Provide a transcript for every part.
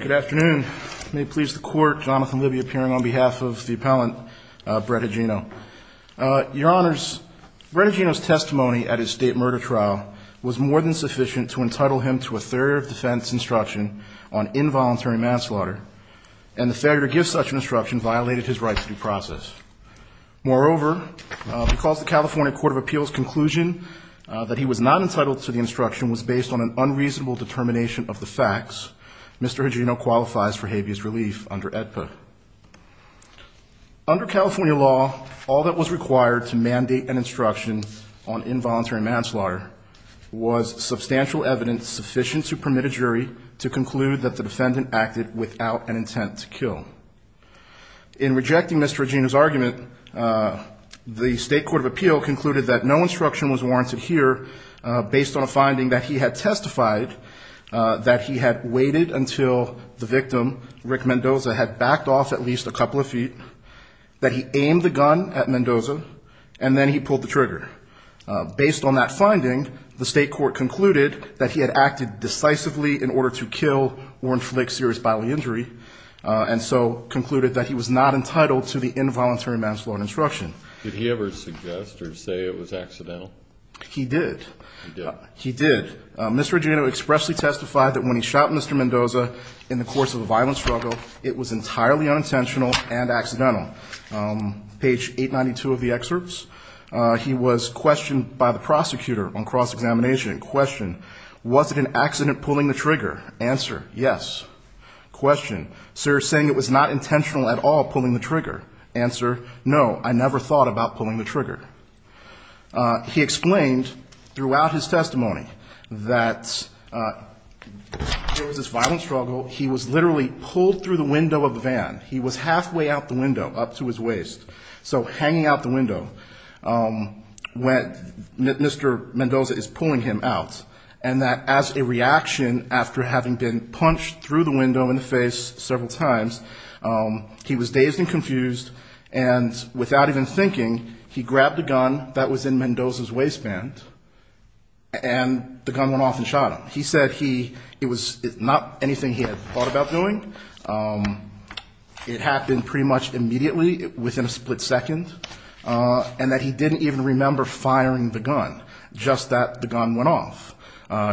Good afternoon. May it please the court, Jonathan Libby appearing on behalf of the appellant Brett Hagenno. Your honors, Brett Hagenno's testimony at his state murder trial was more than sufficient to entitle him to a failure of defense instruction on involuntary manslaughter and the failure to give such an instruction violated his right to due process. Moreover, because the California Court of Appeals conclusion that he was not entitled to the instruction was based on an unreasonable determination of the facts, Mr. Hagenno qualifies for habeas relief under AEDPA. Under California law, all that was required to mandate an instruction on involuntary manslaughter was substantial evidence sufficient to permit a jury to conclude that the defendant acted without an intent to kill. In rejecting Mr. Hagenno's argument, the state court of appeal concluded that no instruction was warranted here based on a finding that he had testified that he had waited until the victim, Rick Mendoza, had backed off at least a couple of feet, that he aimed the gun at Mendoza, and then he pulled the trigger. Based on that finding, the state court concluded that he had acted decisively in order to kill or inflict serious bodily injury and so concluded that he was not entitled to the involuntary manslaughter instruction. Did he ever suggest or say it was accidental? He did. He did. Mr. Hagenno expressly testified that when he shot Mr. Mendoza in the course of a violent struggle, it was entirely unintentional and accidental. Page 892 of the excerpts, he was questioned by the prosecutor on cross-examination. Question, was it an accident pulling the trigger? Answer, yes. Question, sir saying it was not intentional at all pulling the trigger? Answer, no, I never thought about pulling the trigger. He explained throughout his testimony that there was this violent struggle. He was literally pulled through the window of the van. He was halfway out the window, up to his waist, so hanging out the window when Mr. Mendoza is pulling him out and that as a reaction after having been punched through the window in the face several times, he was dazed and confused and without even thinking, he grabbed a gun that was in Mendoza's waistband and the gun went off and shot him. He said it was not anything he had thought about doing. It happened pretty much immediately, within a split second, and that he didn't even remember firing the gun, just that the gun went off.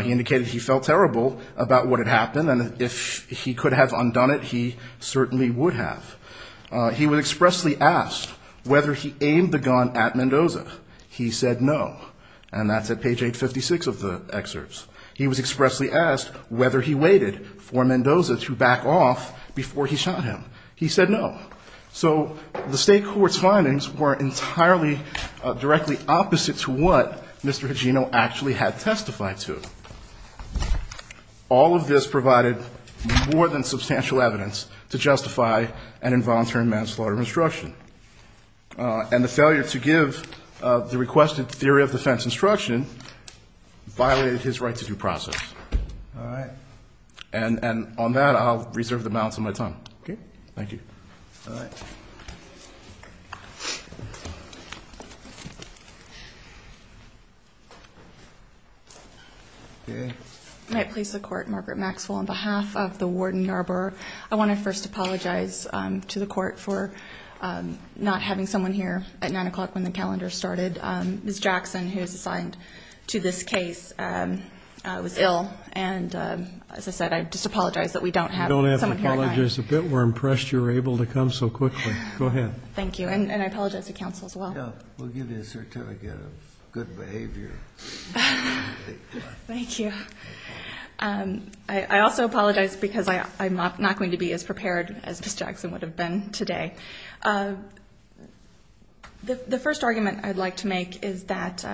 He indicated he felt terrible about what had happened and if he could have whether he aimed the gun at Mendoza. He said no. And that's at page 856 of the excerpts. He was expressly asked whether he waited for Mendoza to back off before he shot him. He said no. So the state court's findings were entirely directly opposite to what Mr. Higino actually had testified to. All of this provided more than substantial evidence to justify an involuntary manslaughter of instruction. And the failure to give the requested theory of defense instruction violated his right to due process. And on that, I'll reserve the balance of my time. Okay, thank you. May it please the Court, Margaret Maxwell, on behalf of the Warden Yarbrough, I want to first apologize to the Court for not having someone here at 9 o'clock when the calendar started. Ms. Jackson, who is assigned to this case, was ill. And as I said, I just apologize that we don't have someone here at 9. You don't have to apologize a bit. We're impressed you were able to come so quickly. Go ahead. Thank you. And I apologize to counsel as well. Yeah, we'll give you a certificate of good behavior. Thank you. I also apologize because I'm not going to be as prepared as Ms. Jackson would have been today. The first argument I'd like to make is that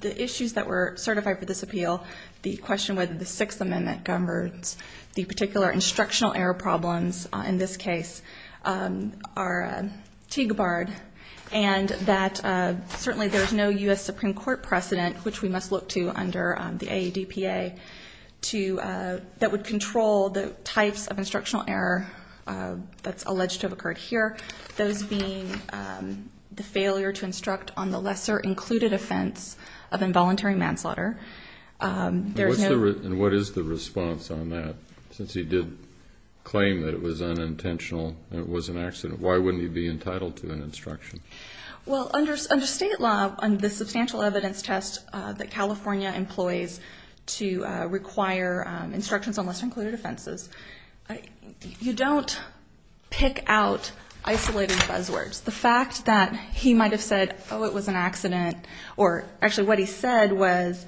the issues that were certified for this appeal, the question whether the Sixth Amendment governs the particular instructional error problems in this case, are TGBARD and that certainly there's no U.S. Supreme Court precedent, which we must look to under the AEDPA, that would control the types of instructional error that's alleged to have occurred here. Those being the failure to instruct on the lesser included offense of involuntary manslaughter. And what is the response on that? Since he did claim that it was unintentional, it was an accident, why wouldn't he be entitled to an instruction? Well, under state law, under the substantial evidence test that California employs to require instructions on lesser included offenses, you don't pick out isolated buzzwords. The fact that he might have said, oh it was an accident, or actually what he said was,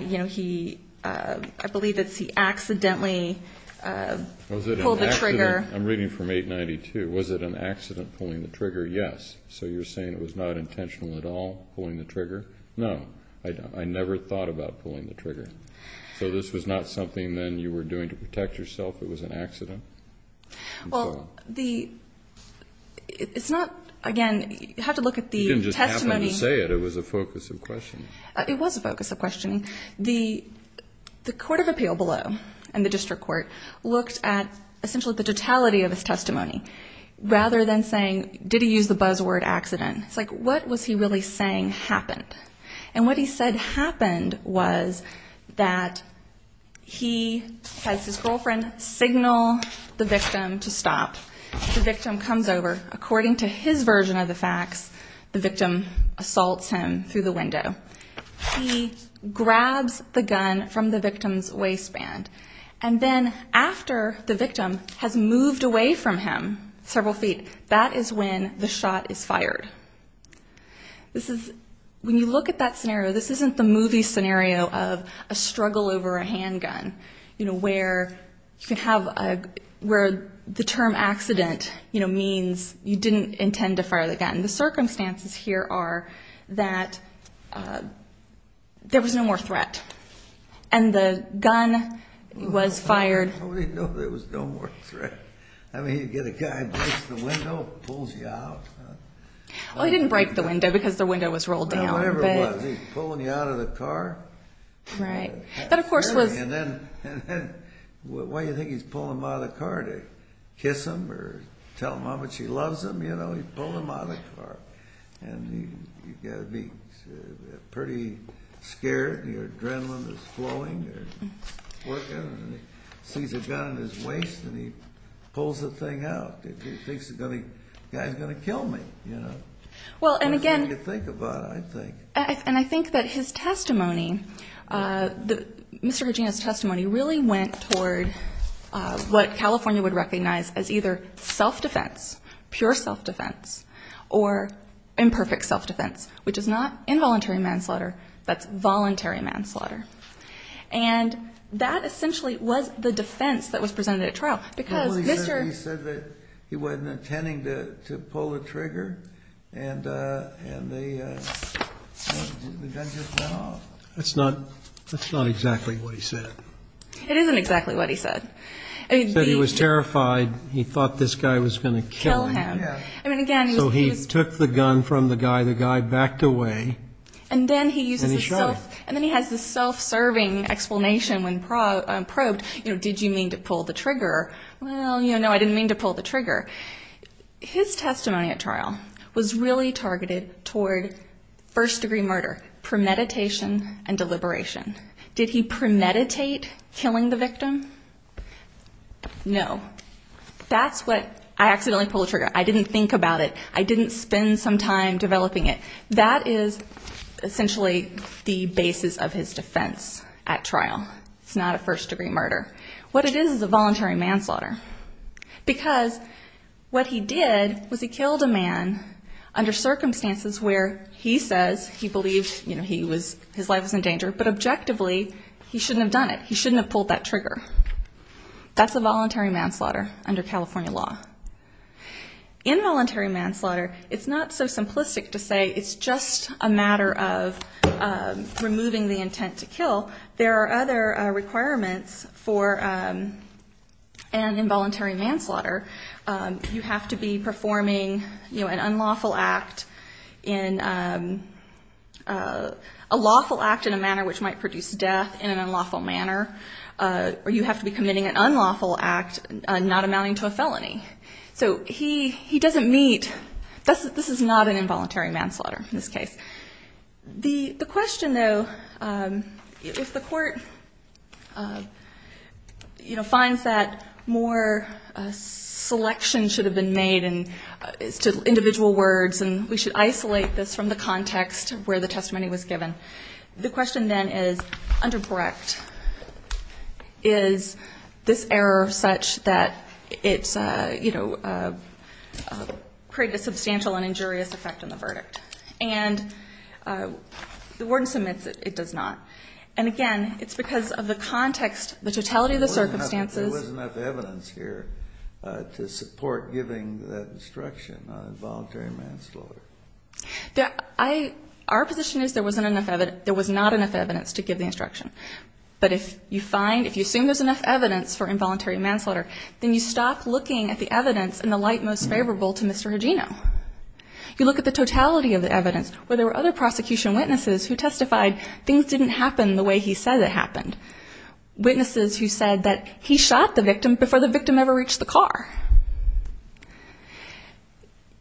you know, he, I believe it's he accidentally pulled the trigger. I'm reading from 892. Was it an accident pulling the trigger? Yes. So you're saying it was not intentional at all, pulling the trigger? No. I never thought about pulling the trigger. So this was not something then you were doing to protect yourself, it was an accident? Well, the, it's not, again, you have to look at the testimony. You didn't just happen to say it, it was a focus of questioning. It was a focus of questioning. The Court of Appeal below, and the District Court, looked at essentially the totality of his testimony, rather than saying, did he use the buzzword accident? It's like, what was he really saying happened? And what he said happened was that he has his girlfriend signal the victim to stop. The victim comes over. According to his version of the facts, the victim assaults him through the window. He grabs the gun from the victim's waistband, and then after the victim has moved away from him several feet, that is when the shot is fired. This is, when you look at that scenario, this isn't the movie scenario of a struggle over a handgun, you know, where you can have a, where the term accident, you know, means you didn't intend to fire the gun. The circumstances here are that there was no more threat, and the gun was fired. Nobody knew there was no more threat. I mean, you get a guy breaks the window, pulls you out. Well, he didn't break the window, because the window was rolled down. Well, whoever it was, he's pulling you out of the car? Right. That, of course, was... And then, why do you think he's pulling him out of the car? To kiss him, or tell him how much he loves him? You know, he pulled him out of the car, and he's pretty scared, and the adrenaline is flowing, and he sees a gun in his waist, and he pulls the thing out. He thinks the guy's going to kill me, you know? That's the way you think about it, I think. And I think that his testimony, Mr. Regina's testimony, really went toward what California would recognize as either self-defense, pure self-defense, or imperfect self-defense, which is not involuntary manslaughter, that's voluntary manslaughter. And that, essentially, was the defense that was presented at trial, because Mr. Well, he said that he wasn't intending to pull the trigger, and the gun just went off. That's not exactly what he said. It isn't exactly what he said. He said he was terrified, he thought this guy was going to kill him. So he took the gun from the guy, the guy backed away, and he shot him. And then he has this self-serving explanation when probed, you know, did you mean to pull the trigger? Well, you know, no, I didn't mean to pull the trigger. His testimony at trial was really targeted toward first-degree murder, premeditation, and deliberation. Did he premeditate killing the victim? No. That's what, I accidentally pulled the trigger, I didn't think about it, I didn't spend some time developing it. That is, essentially, the basis of his defense at trial. It's not a first-degree murder. What it is is a voluntary manslaughter. Because what he did was he killed a man under circumstances where he says he believed, you know, he was, his life was in danger, but objectively, he shouldn't have done it, he shouldn't have pulled that trigger. That's a voluntary manslaughter under California law. Involuntary manslaughter, it's not so simplistic to say it's just a matter of removing the intent to kill. There are other requirements for an involuntary manslaughter. You have to be performing, you know, an unlawful act in, a lawful act in a manner which might produce death in an unlawful manner. Or you have to be committing an unlawful act not amounting to a felony. So he doesn't meet, this is not an involuntary manslaughter in this case. The question, though, if the court, you know, finds that more selection should have been made to individual words and we should isolate this from the context where the testimony was given, the question then is, under correct, is this error such that it's, you know, created a substantial and injurious effect on the verdict? And the warden submits that it does not. And again, it's because of the context, the totality of the circumstances. There wasn't enough evidence here to support giving that instruction on involuntary manslaughter. Our position is there wasn't enough evidence, there was not enough evidence to give the instruction. But if you find, if you assume there's enough evidence for involuntary manslaughter, then you stop looking at the evidence in the light most favorable to Mr. Hugino. You look at the totality of the evidence where there were other prosecution witnesses who testified things didn't happen the way he said it happened. Witnesses who said that he shot the victim before the victim ever reached the car.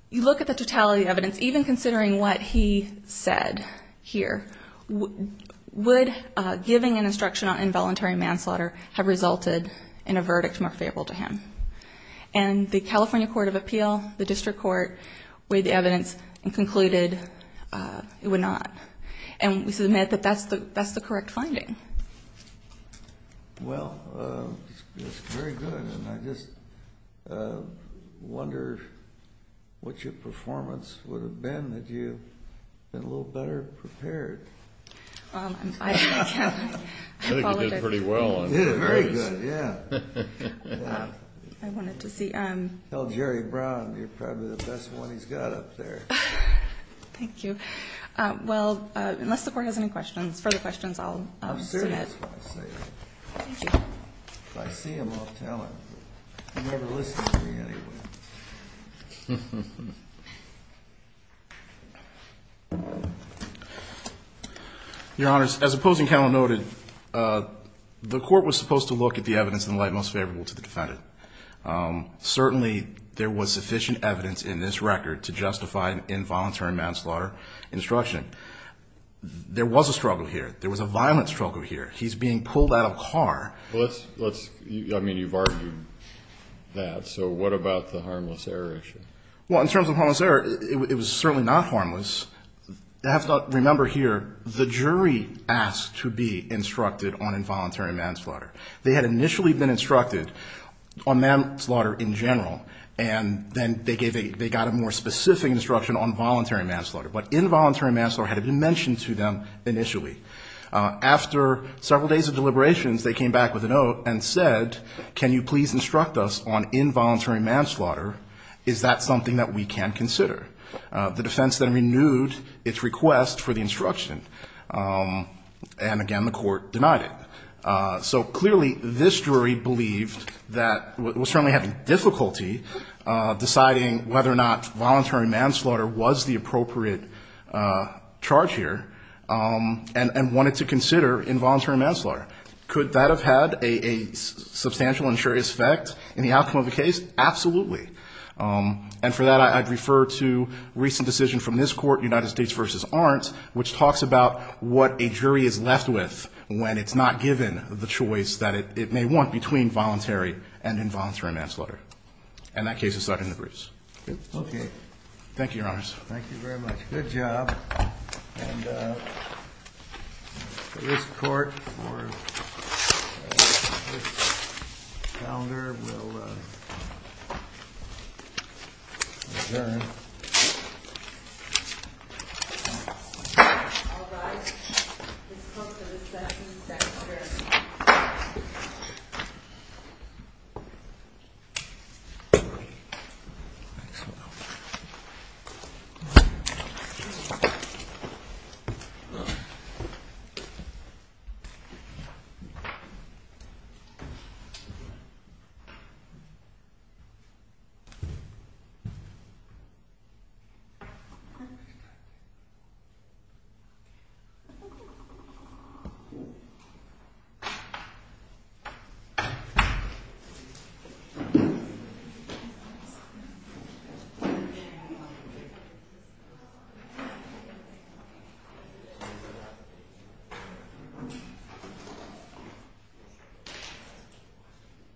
You look at the totality of the evidence, even considering what he said here, would giving an instruction on involuntary manslaughter have resulted in a verdict more favorable to him? And the California Court of Appeal, the district court, weighed the evidence and concluded it would not. And we submit that that's the correct finding. Well, that's very good. And I just wonder what your performance would have been if you had been a little better prepared. I apologize. I think you did pretty well. Very good, yeah. I wanted to see. Tell Jerry Brown you're probably the best one he's got up there. Thank you. Well, unless the court has any questions, further questions, I'll submit. I'm serious when I say that. Thank you. If I see him, I'll tell him. He never listens to me anyway. Your Honor, as opposing count noted, the court was supposed to look at the evidence in light most favorable to the defendant. Certainly, there was sufficient evidence in this record to justify involuntary manslaughter instruction. There was a struggle here. There was a violent struggle here. He's being pulled out of a car. Well, let's, I mean, you've argued that. So what about the homicide? Well, in terms of homicide, it was certainly not harmless. Remember here, the jury asked to be instructed on involuntary manslaughter. They had initially been instructed on manslaughter in general. And then they gave, they got a more specific instruction on voluntary manslaughter. But involuntary manslaughter had been mentioned to them initially. After several days of deliberations, they came back with a note and said, Can you please instruct us on involuntary manslaughter? Is that something that we can consider? The defense then renewed its request for the instruction. And again, the court denied it. So clearly, this jury believed that, was certainly having difficulty deciding whether or not voluntary manslaughter was the appropriate charge here. And wanted to consider involuntary manslaughter. Could that have had a substantial and serious effect in the outcome of the case? Absolutely. And for that, I'd refer to a recent decision from this court, United States v. Arnt, which talks about what a jury is left with when it's not given the choice that it may want between voluntary and involuntary manslaughter. And that case is cited in the briefs. Okay. Thank you, Your Honors. Thank you very much. Good job. And this court for this calendar will adjourn. All rise. This court for the second section. Please be seated. Thank you.